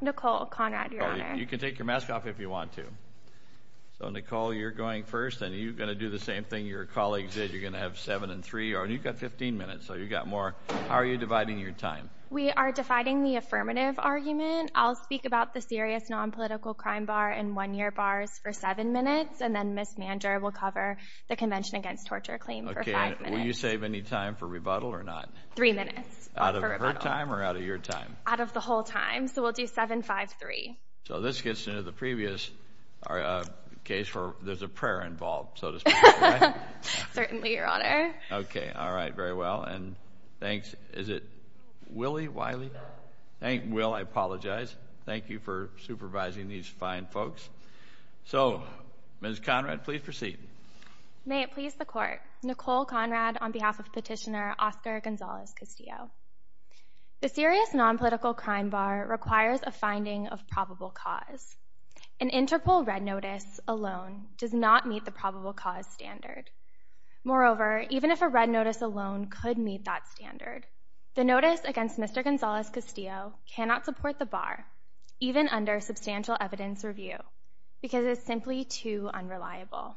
Nicole Conrad, Your Honor. You can take your mask off if you want to. So, Nicole, you're going first, and you're going to do the same thing your colleagues did. You're going to have seven and three, and you've got 15 minutes, so you've got more. How are you dividing your time? We are dividing the affirmative argument. I'll speak about the serious nonpolitical crime bar and one-year bars for seven minutes, and then Ms. Manger will cover the Convention Against Torture claim for five minutes. Okay, and will you save any time for rebuttal or not? Three minutes. Out of her time or out of your time? Out of the whole time, so we'll do seven, five, three. So this gets into the previous case where there's a prayer involved, so to speak, right? Certainly, Your Honor. Okay, all right, very well, and thanks. Is it Willie, Wiley? Will, I apologize. Thank you for supervising these fine folks. So, Ms. Conrad, please proceed. May it please the Court. Nicole Conrad on behalf of Petitioner Oscar Gonzalez-Castillo. The serious nonpolitical crime bar requires a finding of probable cause. An integral red notice alone does not meet the probable cause standard. Moreover, even if a red notice alone could meet that standard, the notice against Mr. Gonzalez-Castillo cannot support the bar, even under substantial evidence review, because it is simply too unreliable.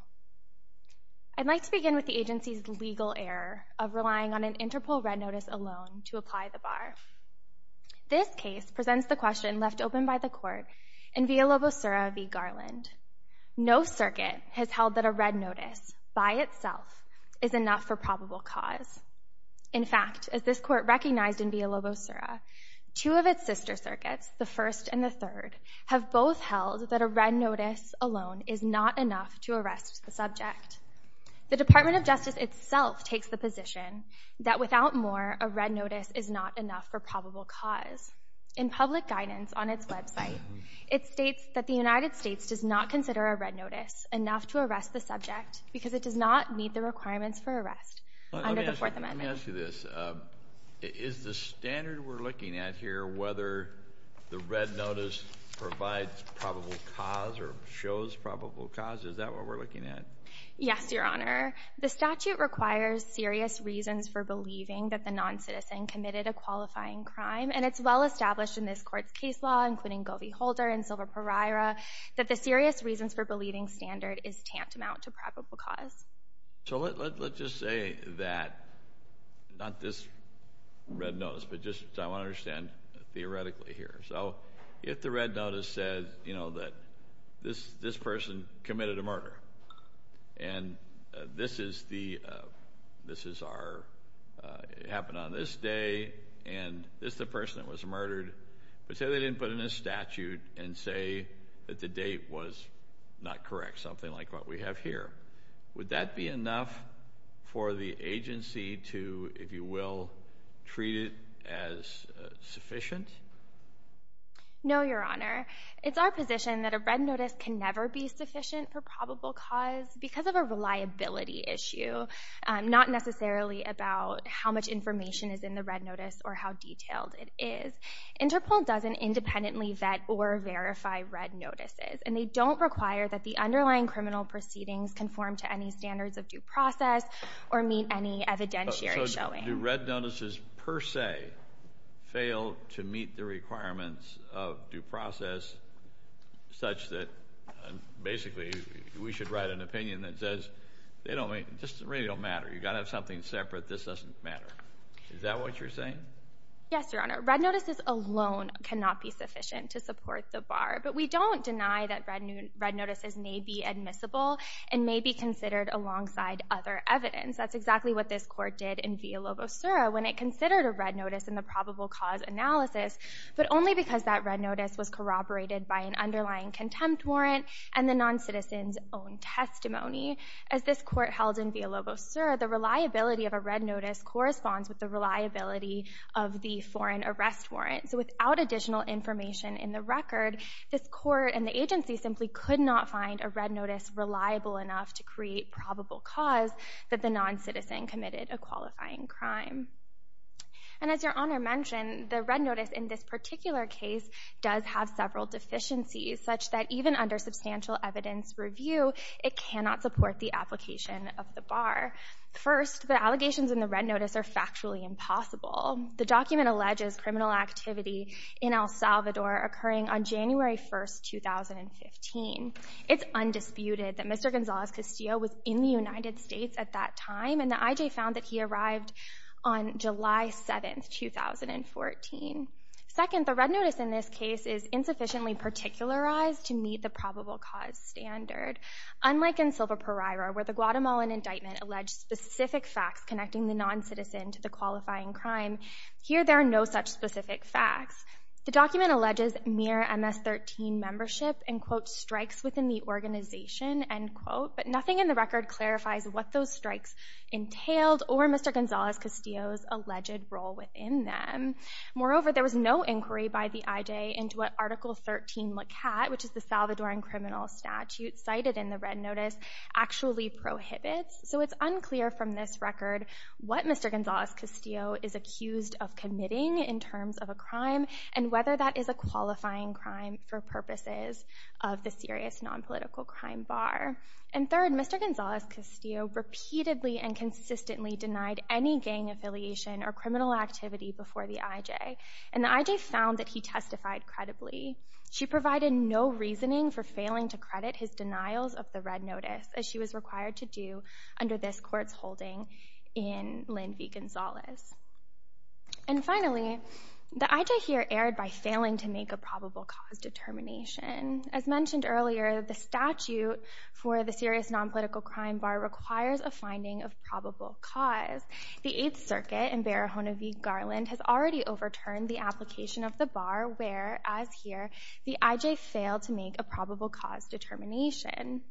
I'd like to begin with the agency's legal error of relying on an integral red notice alone to apply the bar. This case presents the question left open by the Court in Villalobosura v. Garland. No circuit has held that a red notice by itself is enough for probable cause. In fact, as this Court recognized in Villalobosura, two of its sister circuits, the first and the third, have both held that a red notice alone is not enough to arrest the subject. The Department of Justice itself takes the position that without more, a red notice is not enough for probable cause. In public guidance on its website, it states that the United States does not consider a red notice enough to arrest the subject because it does not meet the requirements for arrest under the Fourth Amendment. Let me ask you this. Is the standard we're looking at here whether the red notice provides probable cause or shows probable cause? Is that what we're looking at? Yes, Your Honor. The statute requires serious reasons for believing that the noncitizen committed a qualifying crime, and it's well established in this Court's case law, including Govey-Holder and Silva-Pereira, that the serious reasons for believing standard is tantamount to probable cause. So let's just say that, not this red notice, but just I want to understand theoretically here. So if the red notice says, you know, that this person committed a murder, and this is our, it happened on this day, and this is the person that was murdered, but say they didn't put in a statute and say that the date was not correct, something like what we have here. Would that be enough for the agency to, if you will, treat it as sufficient? No, Your Honor. It's our position that a red notice can never be sufficient for probable cause because of a reliability issue, not necessarily about how much information is in the red notice or how detailed it is. Interpol doesn't independently vet or verify red notices, and they don't require that the underlying criminal proceedings conform to any standards of due process or meet any evidentiary showing. So do red notices per se fail to meet the requirements of due process, such that basically we should write an opinion that says they don't, just really don't matter. You've got to have something separate. This doesn't matter. Is that what you're saying? Yes, Your Honor. Red notices alone cannot be sufficient to support the bar, but we don't deny that red notices may be admissible and may be considered alongside other evidence. That's exactly what this court did in Villalobos-Sura when it considered a red notice in the probable cause analysis, but only because that red notice was corroborated by an underlying contempt warrant and the noncitizen's own testimony. As this court held in Villalobos-Sura, the reliability of a red notice corresponds with the reliability of the foreign arrest warrant. So without additional information in the record, this court and the agency simply could not find a red notice reliable enough to create probable cause that the noncitizen committed a qualifying crime. And as Your Honor mentioned, the red notice in this particular case does have several deficiencies, such that even under substantial evidence review, it cannot support the application of the bar. First, the allegations in the red notice are factually impossible. The document alleges criminal activity in El Salvador occurring on January 1, 2015. It's undisputed that Mr. Gonzales Castillo was in the United States at that time, and the IJ found that he arrived on July 7, 2014. Second, the red notice in this case is insufficiently particularized to meet the probable cause standard. Unlike in Silvaparira, where the Guatemalan indictment alleged specific facts connecting the noncitizen to the qualifying crime, here there are no such specific facts. The document alleges mere MS-13 membership and, quote, strikes within the organization, end quote, but nothing in the record clarifies what those strikes entailed or Mr. Gonzales Castillo's alleged role within them. Moreover, there was no inquiry by the IJ into what Article 13 Lakat, which is the Salvadoran criminal statute cited in the red notice, actually prohibits. So it's unclear from this record what Mr. Gonzales Castillo is accused of committing in terms of a crime and whether that is a qualifying crime for purposes of the serious nonpolitical crime bar. And third, Mr. Gonzales Castillo repeatedly and consistently denied any gang affiliation or criminal activity before the IJ, and the IJ found that he testified credibly. She provided no reasoning for failing to credit his denials of the red notice, as she was required to do under this court's holding in Lin v. Gonzales. And finally, the IJ here erred by failing to make a probable cause determination. As mentioned earlier, the statute for the serious nonpolitical crime bar requires a finding of probable cause. The Eighth Circuit in Barahona v. Garland has already overturned the application of the bar, where, as here, the IJ failed to make a probable cause determination.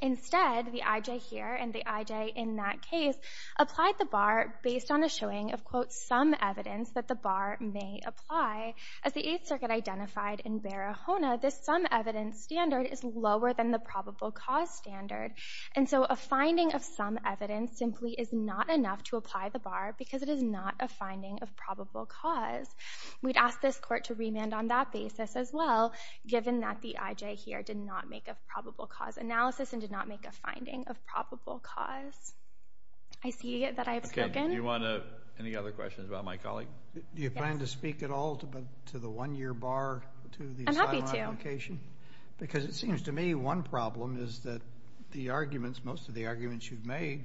Instead, the IJ here and the IJ in that case applied the bar based on a showing of, quote, some evidence that the bar may apply. As the Eighth Circuit identified in Barahona, this some evidence standard is lower than the probable cause standard, and so a finding of some evidence simply is not enough to apply the bar because it is not a finding of probable cause. We'd ask this court to remand on that basis as well, given that the IJ here did not make a probable cause analysis and did not make a finding of probable cause. I see that I have spoken. Okay, do you want any other questions about my colleague? Do you plan to speak at all to the one-year bar to the asylum application? I'm happy to. Because it seems to me one problem is that the arguments, most of the arguments you've made,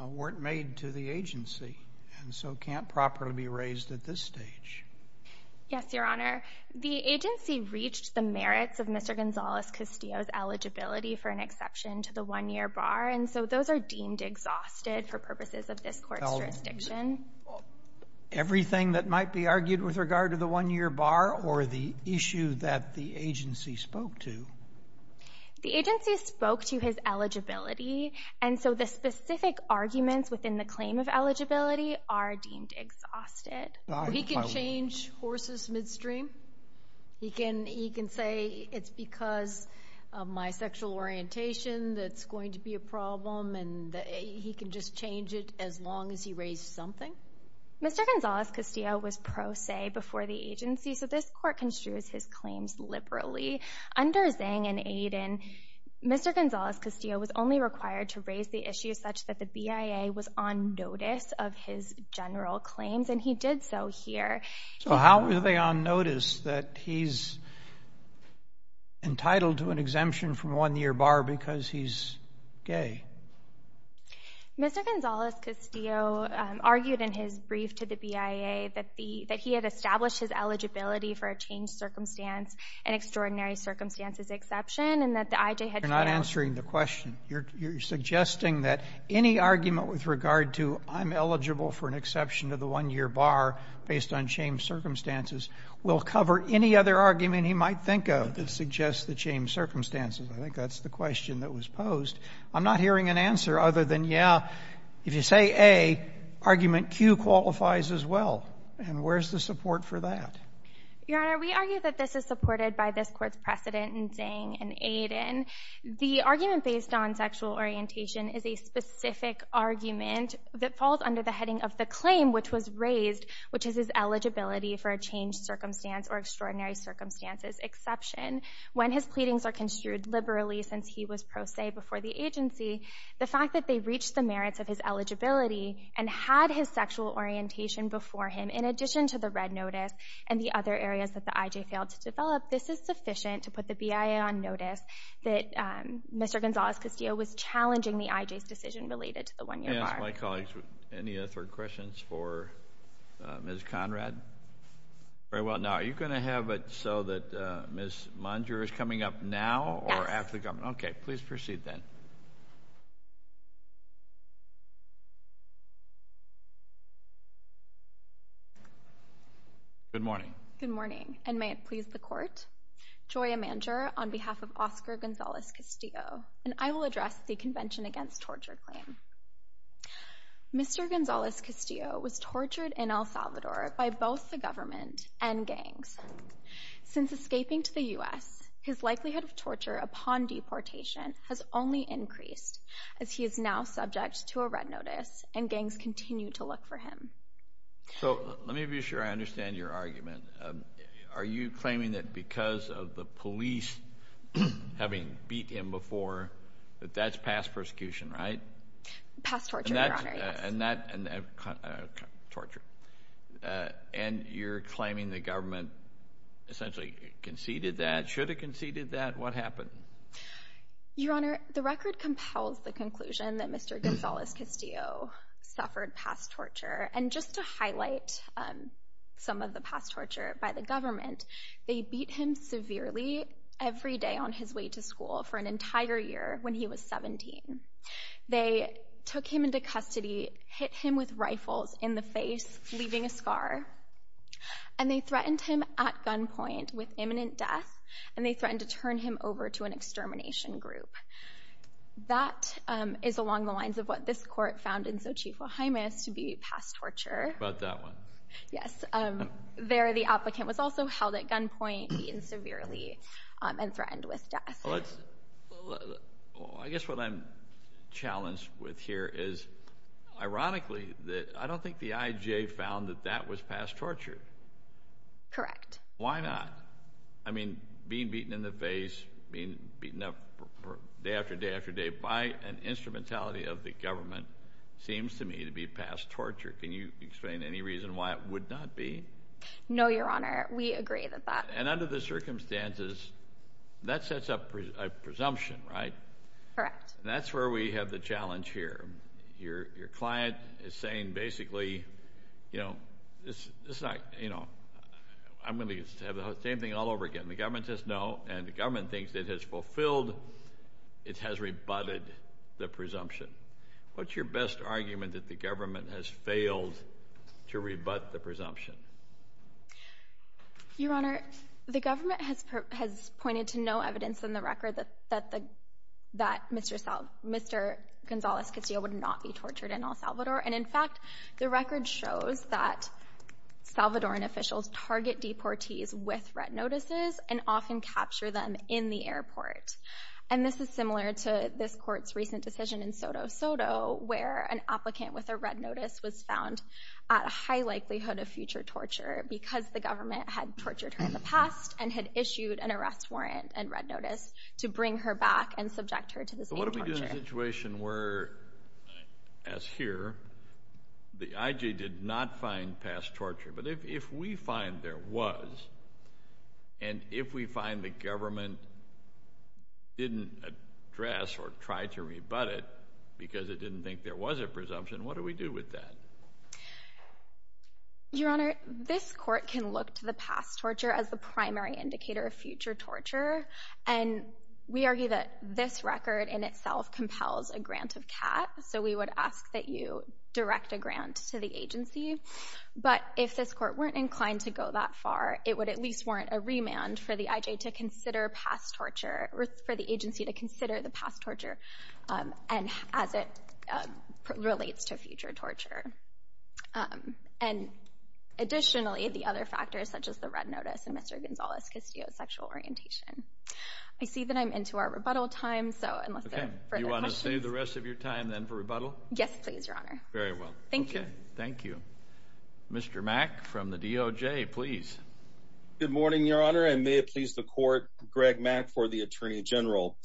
weren't made to the agency and so can't properly be raised at this stage. Yes, Your Honor. The agency reached the merits of Mr. Gonzales-Castillo's eligibility for an exception to the one-year bar, and so those are deemed exhausted for purposes of this court's jurisdiction. Everything that might be argued with regard to the one-year bar or the issue that the agency spoke to? The agency spoke to his eligibility, and so the specific arguments within the claim of eligibility are deemed exhausted. He can change horses midstream. He can say it's because of my sexual orientation that it's going to be a problem, and he can just change it as long as he raised something? Mr. Gonzales-Castillo was pro se before the agency, so this court construes his claims liberally. Under Zhang and Aiden, Mr. Gonzales-Castillo was only required to raise the issue such that the BIA was on notice of his general claims, and he did so here. So how were they on notice that he's entitled to an exemption from one-year bar because he's gay? Mr. Gonzales-Castillo argued in his brief to the BIA that he had established his eligibility for a changed circumstance, an extraordinary circumstances exception, and that the IJ had failed. You're not answering the question. You're suggesting that any argument with regard to I'm eligible for an exception to the one-year bar based on changed circumstances will cover any other argument he might think of that suggests the changed circumstances. I think that's the question that was posed. I'm not hearing an answer other than, yeah, if you say A, argument Q qualifies as well. And where's the support for that? Your Honor, we argue that this is supported by this Court's precedent in Zhang and Aiden. The argument based on sexual orientation is a specific argument that falls under the heading of the claim which was raised, which is his eligibility for a changed circumstance or extraordinary circumstances exception. When his pleadings are construed liberally since he was pro se before the agency, the fact that they reached the merits of his eligibility and had his sexual orientation before him in addition to the red notice and the other areas that the IJ failed to develop, this is sufficient to put the BIA on notice that Mr. Gonzales-Castillo was challenging the IJ's decision related to the one-year bar. I ask my colleagues any other questions for Ms. Conrad? Very well. Now, are you going to have it so that Ms. Manger is coming up now or after the comment? Yes. Okay. Please proceed then. Good morning. Good morning, and may it please the Court. Joya Manger on behalf of Oscar Gonzales-Castillo. And I will address the Convention Against Torture claim. Mr. Gonzales-Castillo was tortured in El Salvador by both the government and gangs. Since escaping to the U.S., his likelihood of torture upon deportation has only increased as he is now subject to a red notice and gangs continue to look for him. Are you claiming that because of the police having beat him before, that that's past persecution, right? Past torture, Your Honor, yes. And not torture. And you're claiming the government essentially conceded that? Should it have conceded that? What happened? Your Honor, the record compels the conclusion that Mr. Gonzales-Castillo suffered past torture. And just to highlight some of the past torture by the government, they beat him severely every day on his way to school for an entire year when he was 17. They took him into custody, hit him with rifles in the face, leaving a scar. And they threatened him at gunpoint with imminent death, and they threatened to turn him over to an extermination group. That is along the lines of what this court found in Xochitl Jimenez to be past torture. How about that one? Yes. There, the applicant was also held at gunpoint, beaten severely, and threatened with death. I guess what I'm challenged with here is, ironically, I don't think the IJA found that that was past torture. Correct. Why not? I mean, being beaten in the face, being beaten up day after day after day by an instrumentality of the government seems to me to be past torture. Can you explain any reason why it would not be? No, Your Honor. We agree with that. And under the circumstances, that sets up a presumption, right? Correct. And that's where we have the challenge here. Your client is saying basically, you know, it's not, you know, I'm going to have the same thing all over again. The government says no, and the government thinks it has fulfilled, it has rebutted the presumption. What's your best argument that the government has failed to rebut the presumption? Your Honor, the government has pointed to no evidence in the record that Mr. Gonzalez-Castillo would not be tortured in El Salvador. And, in fact, the record shows that Salvadoran officials target deportees with red notices and often capture them in the airport. And this is similar to this court's recent decision in Soto Soto, where an applicant with a red notice was found at a high likelihood of future torture because the government had tortured her in the past and had issued an arrest warrant and red notice to bring her back and subject her to the same torture. So what do we do in a situation where, as here, the IJ did not find past torture? But if we find there was, and if we find the government didn't address or try to rebut it because it didn't think there was a presumption, what do we do with that? Your Honor, this court can look to the past torture as the primary indicator of future torture, and we argue that this record in itself compels a grant of CAT, so we would ask that you direct a grant to the agency. But if this court weren't inclined to go that far, it would at least warrant a remand for the IJ to consider past torture, for the agency to consider the past torture as it relates to future torture. And additionally, the other factors such as the red notice and Mr. Gonzalez-Castillo's sexual orientation. I see that I'm into our rebuttal time, so unless there are further questions. Do you want to save the rest of your time then for rebuttal? Yes, please, Your Honor. Very well. Thank you. Thank you. Mr. Mack from the DOJ, please. Good morning, Your Honor, and may it please the court, Greg Mack for the Attorney General.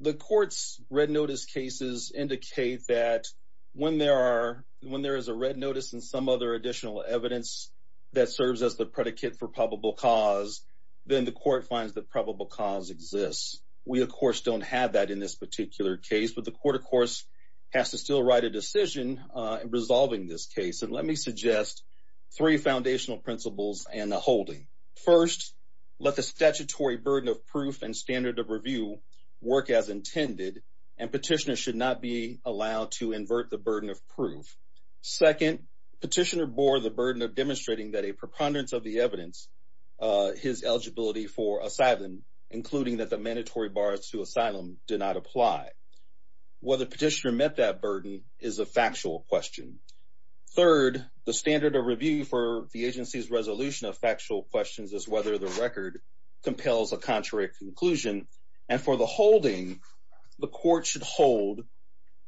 The court's red notice cases indicate that when there is a red notice and some other additional evidence that serves as the predicate for probable cause, then the court finds that probable cause exists. We, of course, don't have that in this particular case, but the court, of course, has to still write a decision in resolving this case. And let me suggest three foundational principles and a holding. First, let the statutory burden of proof and standard of review work as intended, and petitioners should not be allowed to invert the burden of proof. Second, petitioner bore the burden of demonstrating that a preponderance of the evidence, his eligibility for asylum, including that the mandatory bars to asylum did not apply. Whether petitioner met that burden is a factual question. Third, the standard of review for the agency's resolution of factual questions is whether the record compels a contrary conclusion. And for the holding, the court should hold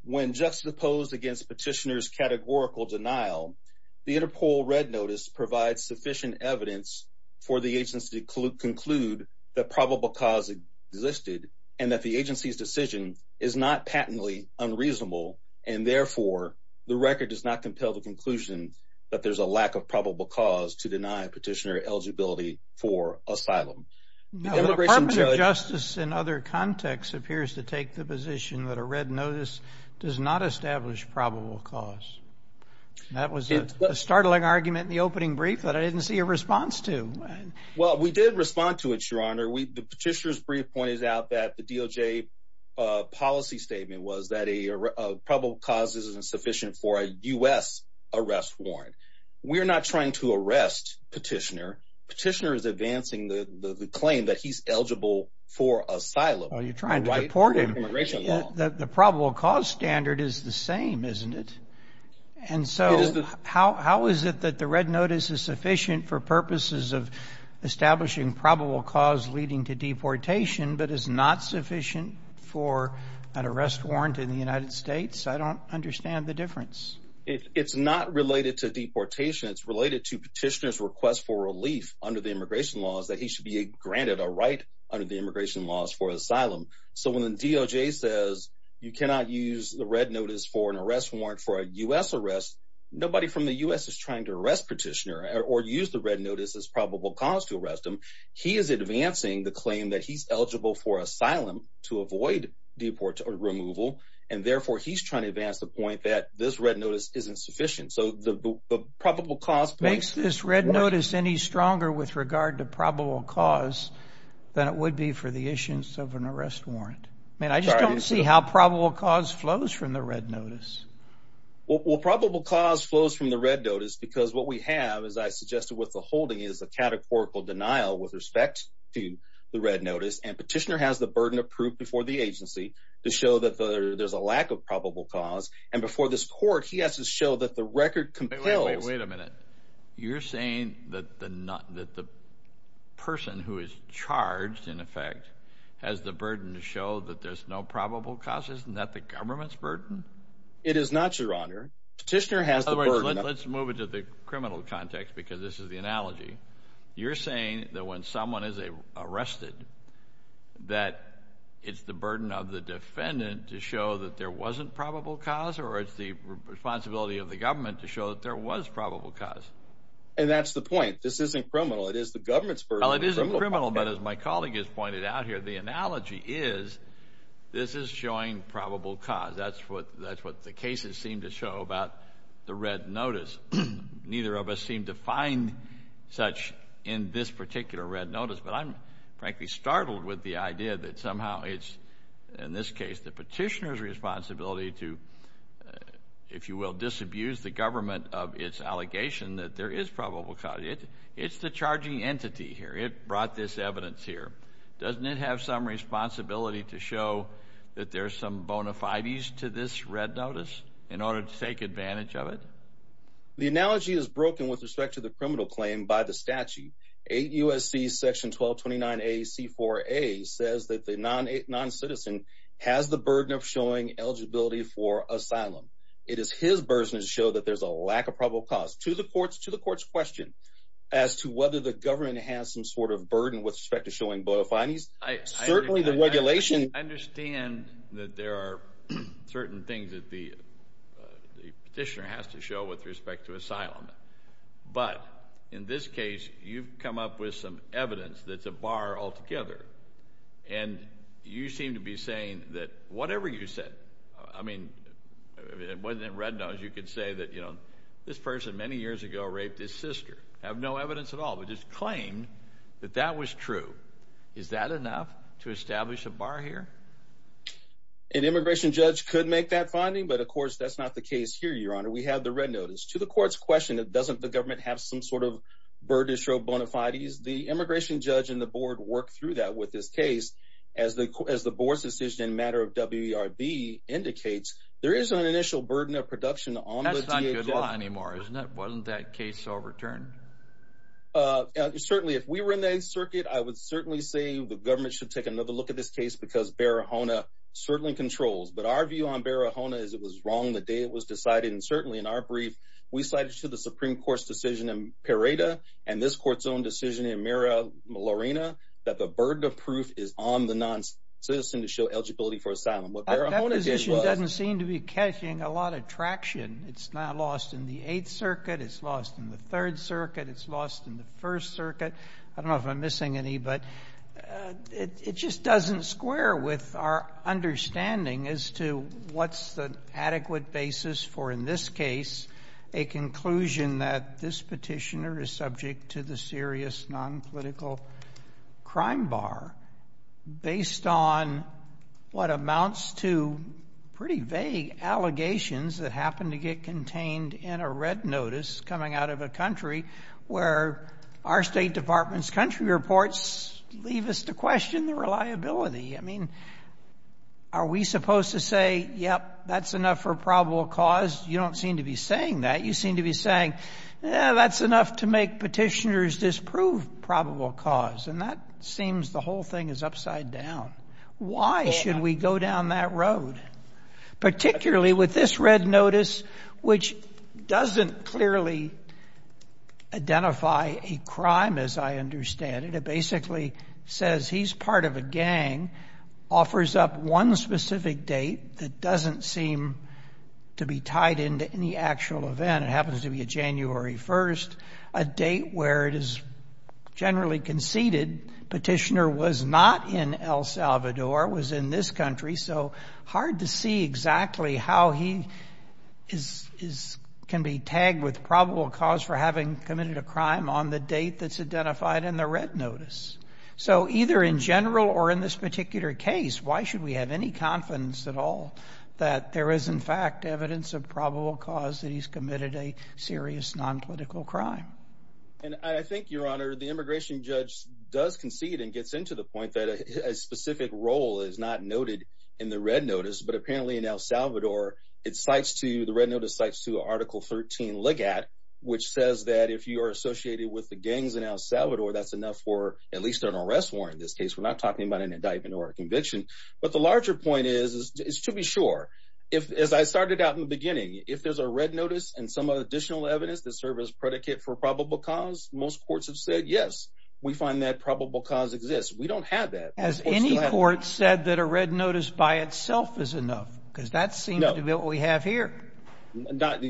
when juxtaposed against petitioner's categorical denial, the Interpol red notice provides sufficient evidence for the agency to conclude that probable cause existed and that the agency's decision is not patently unreasonable and therefore the record does not compel the conclusion that there's a lack of probable cause to deny petitioner eligibility for asylum. The Department of Justice in other contexts appears to take the position that a red notice does not establish probable cause. That was a startling argument in the opening brief that I didn't see a response to. Well, we did respond to it, Your Honor. The petitioner's brief pointed out that the DOJ policy statement was that probable cause isn't sufficient for a U.S. arrest warrant. We're not trying to arrest petitioner. Petitioner is advancing the claim that he's eligible for asylum. Well, you're trying to deport him. The probable cause standard is the same, isn't it? And so how is it that the red notice is sufficient for purposes of establishing probable cause leading to deportation but is not sufficient for an arrest warrant in the United States? I don't understand the difference. It's not related to deportation. It's related to petitioner's request for relief under the immigration laws that he should be granted a right under the immigration laws for asylum. So when the DOJ says you cannot use the red notice for an arrest warrant for a U.S. arrest, nobody from the U.S. is trying to arrest petitioner or use the red notice as probable cause to arrest him. He is advancing the claim that he's eligible for asylum to avoid deport or removal, and therefore he's trying to advance the point that this red notice isn't sufficient. So the probable cause point— Makes this red notice any stronger with regard to probable cause than it would be for the issuance of an arrest warrant. I mean, I just don't see how probable cause flows from the red notice. Well, probable cause flows from the red notice because what we have, as I suggested with the holding, is a categorical denial with respect to the red notice, and petitioner has the burden approved before the agency to show that there's a lack of probable cause, and before this court he has to show that the record compels— Wait a minute. You're saying that the person who is charged, in effect, has the burden to show that there's no probable cause? Isn't that the government's burden? It is not, Your Honor. Petitioner has the burden— Let's move into the criminal context because this is the analogy. You're saying that when someone is arrested that it's the burden of the defendant to show that there wasn't probable cause, or it's the responsibility of the government to show that there was probable cause? And that's the point. This isn't criminal. It is the government's burden. Well, it isn't criminal, but as my colleague has pointed out here, the analogy is this is showing probable cause. That's what the cases seem to show about the red notice. Neither of us seem to find such in this particular red notice, but I'm frankly startled with the idea that somehow it's, in this case, the petitioner's responsibility to, if you will, disabuse the government of its allegation that there is probable cause. It's the charging entity here. It brought this evidence here. Doesn't it have some responsibility to show that there's some bona fides to this red notice in order to take advantage of it? The analogy is broken with respect to the criminal claim by the statute. 8 U.S.C. section 1229A C4A says that the noncitizen has the burden of showing eligibility for asylum. It is his burden to show that there's a lack of probable cause. To the court's question as to whether the government has some sort of burden with respect to showing bona fides, certainly the regulation— I understand that there are certain things that the petitioner has to show with respect to asylum, but in this case you've come up with some evidence that's a bar altogether, and you seem to be saying that whatever you said, I mean, whether in red notice you could say that, you know, this person many years ago raped his sister. You have no evidence at all, but just claim that that was true. Is that enough to establish a bar here? An immigration judge could make that finding, but of course that's not the case here, Your Honor. We have the red notice. To the court's question, doesn't the government have some sort of burden to show bona fides? The immigration judge and the board worked through that with this case. As the board's decision in matter of WERB indicates, there is an initial burden of production on the DHS. Wasn't that case overturned? Certainly. If we were in the 8th Circuit, I would certainly say the government should take another look at this case because Barahona certainly controls. But our view on Barahona is it was wrong the day it was decided, and certainly in our brief we cited to the Supreme Court's decision in Pareda and this court's own decision in Miramarina that the burden of proof is on the noncitizen to show eligibility for asylum. What Barahona did was— It's lost in the 8th Circuit. It's lost in the 3rd Circuit. It's lost in the 1st Circuit. I don't know if I'm missing any, but it just doesn't square with our understanding as to what's the adequate basis for, in this case, a conclusion that this petitioner is subject to the serious nonpolitical crime bar based on what amounts to pretty vague allegations that happen to get contained in a red notice coming out of a country where our State Department's country reports leave us to question the reliability. I mean, are we supposed to say, yep, that's enough for probable cause? You don't seem to be saying that. You seem to be saying, yeah, that's enough to make petitioners disprove probable cause. And that seems the whole thing is upside down. Why should we go down that road, particularly with this red notice, which doesn't clearly identify a crime as I understand it. It basically says he's part of a gang, offers up one specific date that doesn't seem to be tied into any actual event. It happens to be a January 1st, a date where it is generally conceded petitioner was not in El Salvador, was in this country, so hard to see exactly how he can be tagged with probable cause for having committed a crime on the date that's identified in the red notice. So either in general or in this particular case, why should we have any confidence at all that there is in fact evidence of probable cause that he's committed a serious non-political crime? And I think, Your Honor, the immigration judge does concede and gets into the point that a specific role is not noted in the red notice, but apparently in El Salvador, the red notice cites to Article 13 Ligat, which says that if you are associated with the gangs in El Salvador, that's enough for at least an arrest warrant in this case. But the larger point is, is to be sure. If, as I started out in the beginning, if there's a red notice and some additional evidence that serve as predicate for probable cause, most courts have said, yes, we find that probable cause exists. We don't have that. Has any court said that a red notice by itself is enough? Because that seems to be what we have here. Not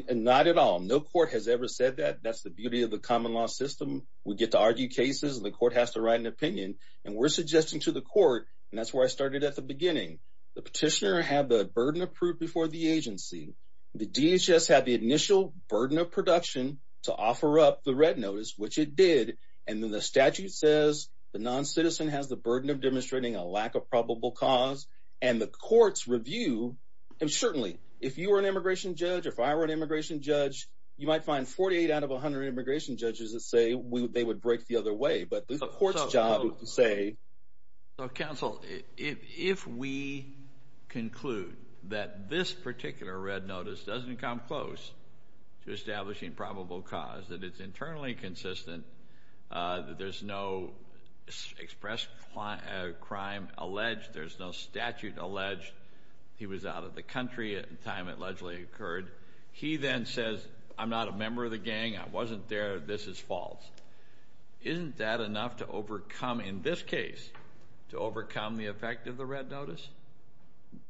at all. No court has ever said that. That's the beauty of the common law system. We get to argue cases and the court has to write an opinion. And we're suggesting to the court, and that's where I started at the beginning, the petitioner had the burden of proof before the agency. The DHS had the initial burden of production to offer up the red notice, which it did. And then the statute says the noncitizen has the burden of demonstrating a lack of probable cause. And the courts review. And certainly, if you were an immigration judge, if I were an immigration judge, you might find 48 out of 100 immigration judges that say they would break the other way. But the court's job is to say. So, counsel, if we conclude that this particular red notice doesn't come close to establishing probable cause, that it's internally consistent, that there's no express crime alleged, there's no statute alleged, he was out of the country at the time it allegedly occurred. He then says, I'm not a member of the gang, I wasn't there, this is false. Isn't that enough to overcome, in this case, to overcome the effect of the red notice?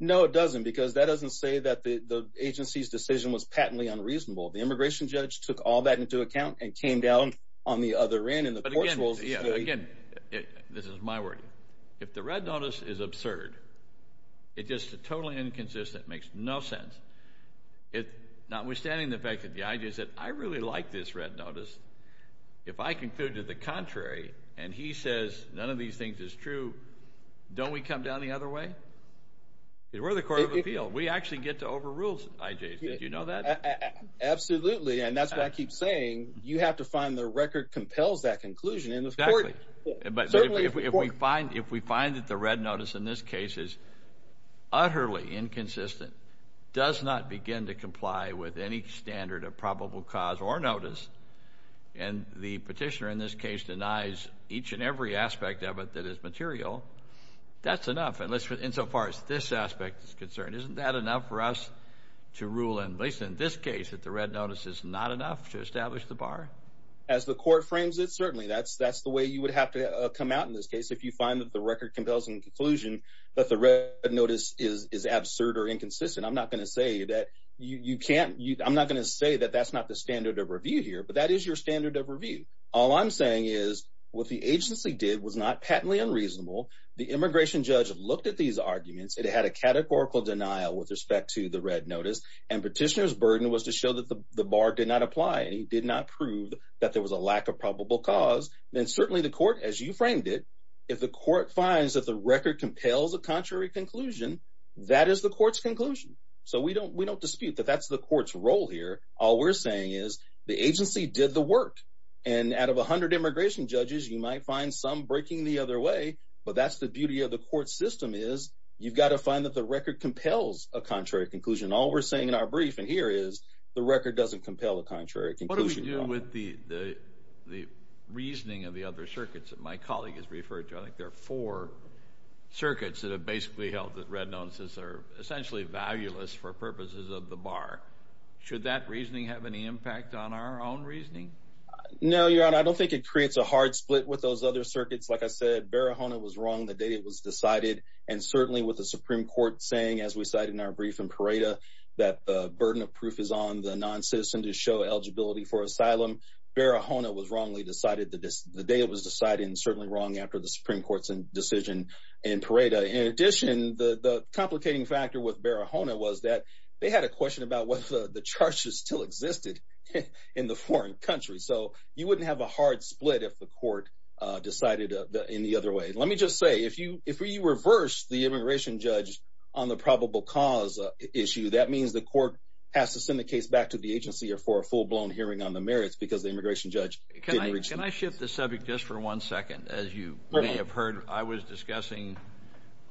No, it doesn't. Because that doesn't say that the agency's decision was patently unreasonable. The immigration judge took all that into account and came down on the other end. Again, this is my word. If the red notice is absurd, it's just totally inconsistent, makes no sense. Notwithstanding the fact that the idea is that I really like this red notice, if I conclude to the contrary and he says none of these things is true, don't we come down the other way? We're the court of appeal. We actually get to overrule IJs. Did you know that? Absolutely, and that's what I keep saying. You have to find the record compels that conclusion. Exactly. But if we find that the red notice in this case is utterly inconsistent, does not begin to comply with any standard of probable cause or notice, and the petitioner in this case denies each and every aspect of it that is material, that's enough. Insofar as this aspect is concerned, isn't that enough for us to rule in, at least in this case, that the red notice is not enough to establish the bar? As the court frames it, certainly. That's the way you would have to come out in this case if you find that the record compels in conclusion that the red notice is absurd or inconsistent. I'm not going to say that that's not the standard of review here, but that is your standard of review. All I'm saying is what the agency did was not patently unreasonable. The immigration judge looked at these arguments. It had a categorical denial with respect to the red notice, and petitioner's burden was to show that the bar did not apply, and he did not prove that there was a lack of probable cause. Then certainly the court, as you framed it, if the court finds that the record compels a contrary conclusion, that is the court's conclusion. So we don't dispute that that's the court's role here. All we're saying is the agency did the work, and out of 100 immigration judges, you might find some breaking the other way, but that's the beauty of the court system is you've got to find that the record compels a contrary conclusion. All we're saying in our brief in here is the record doesn't compel a contrary conclusion. What do we do with the reasoning of the other circuits that my colleague has referred to? I think there are four circuits that have basically held that red notices are essentially valueless for purposes of the bar. Should that reasoning have any impact on our own reasoning? No, Your Honor. I don't think it creates a hard split with those other circuits. Like I said, Barahona was wrong the day it was decided, and certainly with the Supreme Court saying, as we cite in our brief in Pareto, that the burden of proof is on the noncitizen to show eligibility for asylum. Barahona was wrongly decided the day it was decided, and certainly wrong after the Supreme Court's decision in Pareto. In addition, the complicating factor with Barahona was that they had a question about whether the charges still existed in the foreign country. So you wouldn't have a hard split if the court decided in the other way. Let me just say, if you reverse the immigration judge on the probable cause issue, that means the court has to send the case back to the agency or for a full-blown hearing on the merits because the immigration judge didn't reach them. Can I shift the subject just for one second? As you may have heard, I was discussing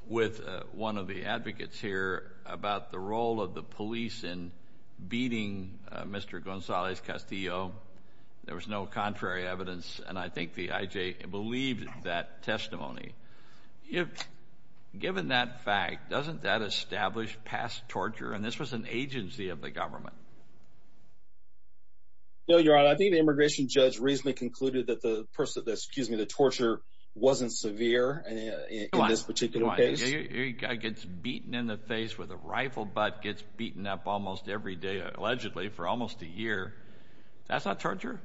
with one of the advocates here about the role of the police in beating Mr. Gonzalez Castillo. There was no contrary evidence, and I think the IJ believed that testimony. Given that fact, doesn't that establish past torture? And this was an agency of the government. No, Your Honor. I think the immigration judge reasonably concluded that the torture wasn't severe in this particular case. A guy gets beaten in the face with a rifle butt, gets beaten up almost every day, allegedly for almost a year. That's not torture?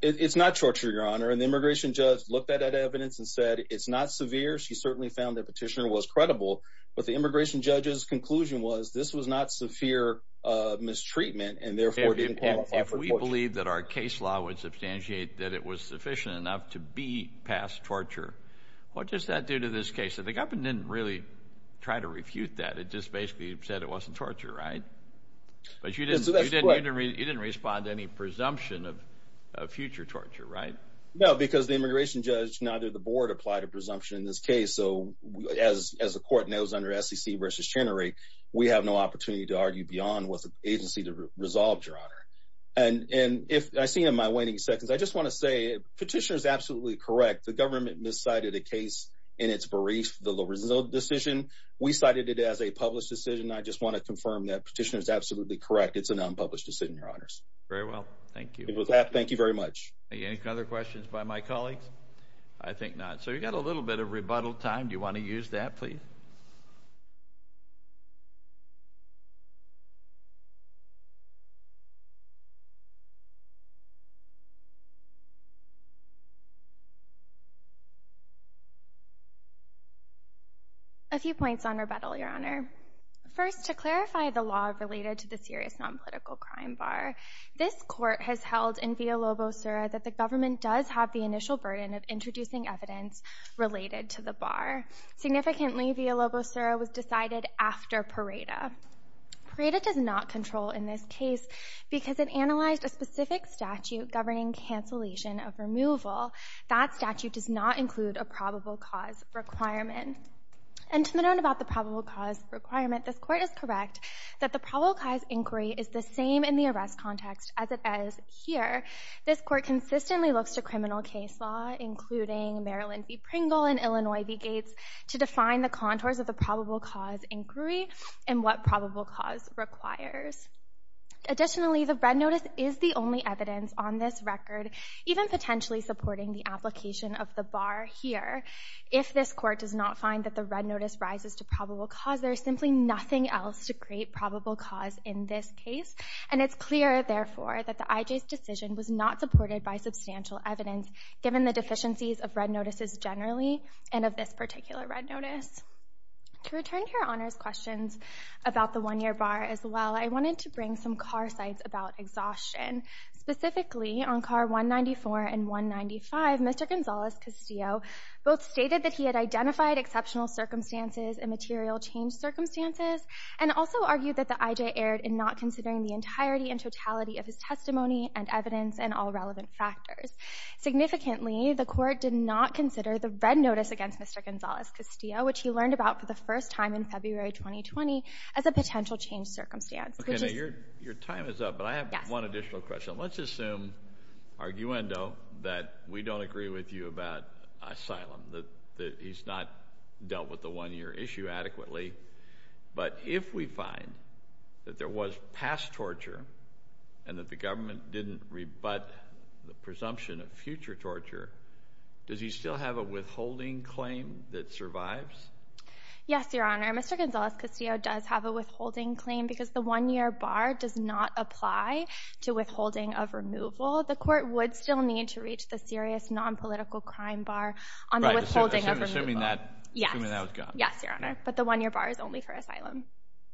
It's not torture, Your Honor. And the immigration judge looked at that evidence and said it's not severe. She certainly found the petitioner was credible. But the immigration judge's conclusion was this was not severe mistreatment and therefore didn't qualify for torture. If we believe that our case law would substantiate that it was sufficient enough to beat past torture, what does that do to this case? And the government didn't really try to refute that. It just basically said it wasn't torture, right? But you didn't respond to any presumption of future torture, right? No, because the immigration judge and either the board applied a presumption in this case. So as the court knows under SEC v. Chenery, we have no opportunity to argue beyond what the agency resolved, Your Honor. And I see you in my waiting seconds. I just want to say the petitioner is absolutely correct. The government miscited a case in its brief, the low result decision. We cited it as a published decision. I just want to confirm that petitioner is absolutely correct. It's an unpublished decision, Your Honors. Very well. Thank you. Thank you very much. Any other questions by my colleagues? I think not. So you've got a little bit of rebuttal time. Do you want to use that, please? A few points on rebuttal, Your Honor. First, to clarify the law related to the serious nonpolitical crime bar, this court has held in via lobo sura that the government does have the initial burden of introducing evidence related to the bar. Significantly, via lobo sura was decided after Pareto. Pareto does not control in this case because it analyzed a specific statute governing cancellation of removal. That statute does not include a probable cause requirement. And to the note about the probable cause requirement, this court is correct that the probable cause inquiry is the same in the arrest context as it is here. This court consistently looks to criminal case law, including Marilyn v. Pringle and Illinois v. Gates, to define the contours of the probable cause inquiry and what probable cause requires. Additionally, the red notice is the only evidence on this record even potentially supporting the application of the bar here. If this court does not find that the red notice rises to probable cause, there is simply nothing else to create probable cause in this case. And it's clear, therefore, that the IJ's decision was not supported by substantial evidence, given the deficiencies of red notices generally and of this particular red notice. To return to your honors questions about the one-year bar as well, I wanted to bring some car sites about exhaustion. Specifically, on car 194 and 195, Mr. Gonzales-Castillo both stated that he had identified exceptional circumstances and material change circumstances and also argued that the IJ erred in not considering the entirety and totality of his testimony and evidence and all relevant factors. Significantly, the court did not consider the red notice against Mr. Gonzales-Castillo, which he learned about for the first time in February 2020, as a potential change circumstance. Your time is up, but I have one additional question. Let's assume, arguendo, that we don't agree with you about asylum, that he's not dealt with the one-year issue adequately. But if we find that there was past torture and that the government didn't rebut the presumption of future torture, does he still have a withholding claim that survives? Yes, Your Honor. Mr. Gonzales-Castillo does have a withholding claim because the one-year bar does not apply to withholding of removal. The court would still need to reach the serious non-political crime bar on the withholding of removal. Assuming that was gone. Yes, Your Honor. But the one-year bar is only for asylum.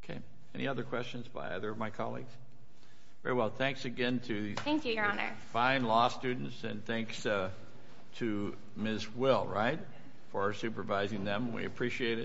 Okay. Any other questions by other of my colleagues? Very well. Thanks again to these fine law students. Thank you, Your Honor. And thanks to Ms. Will, right, for supervising them. We appreciate it.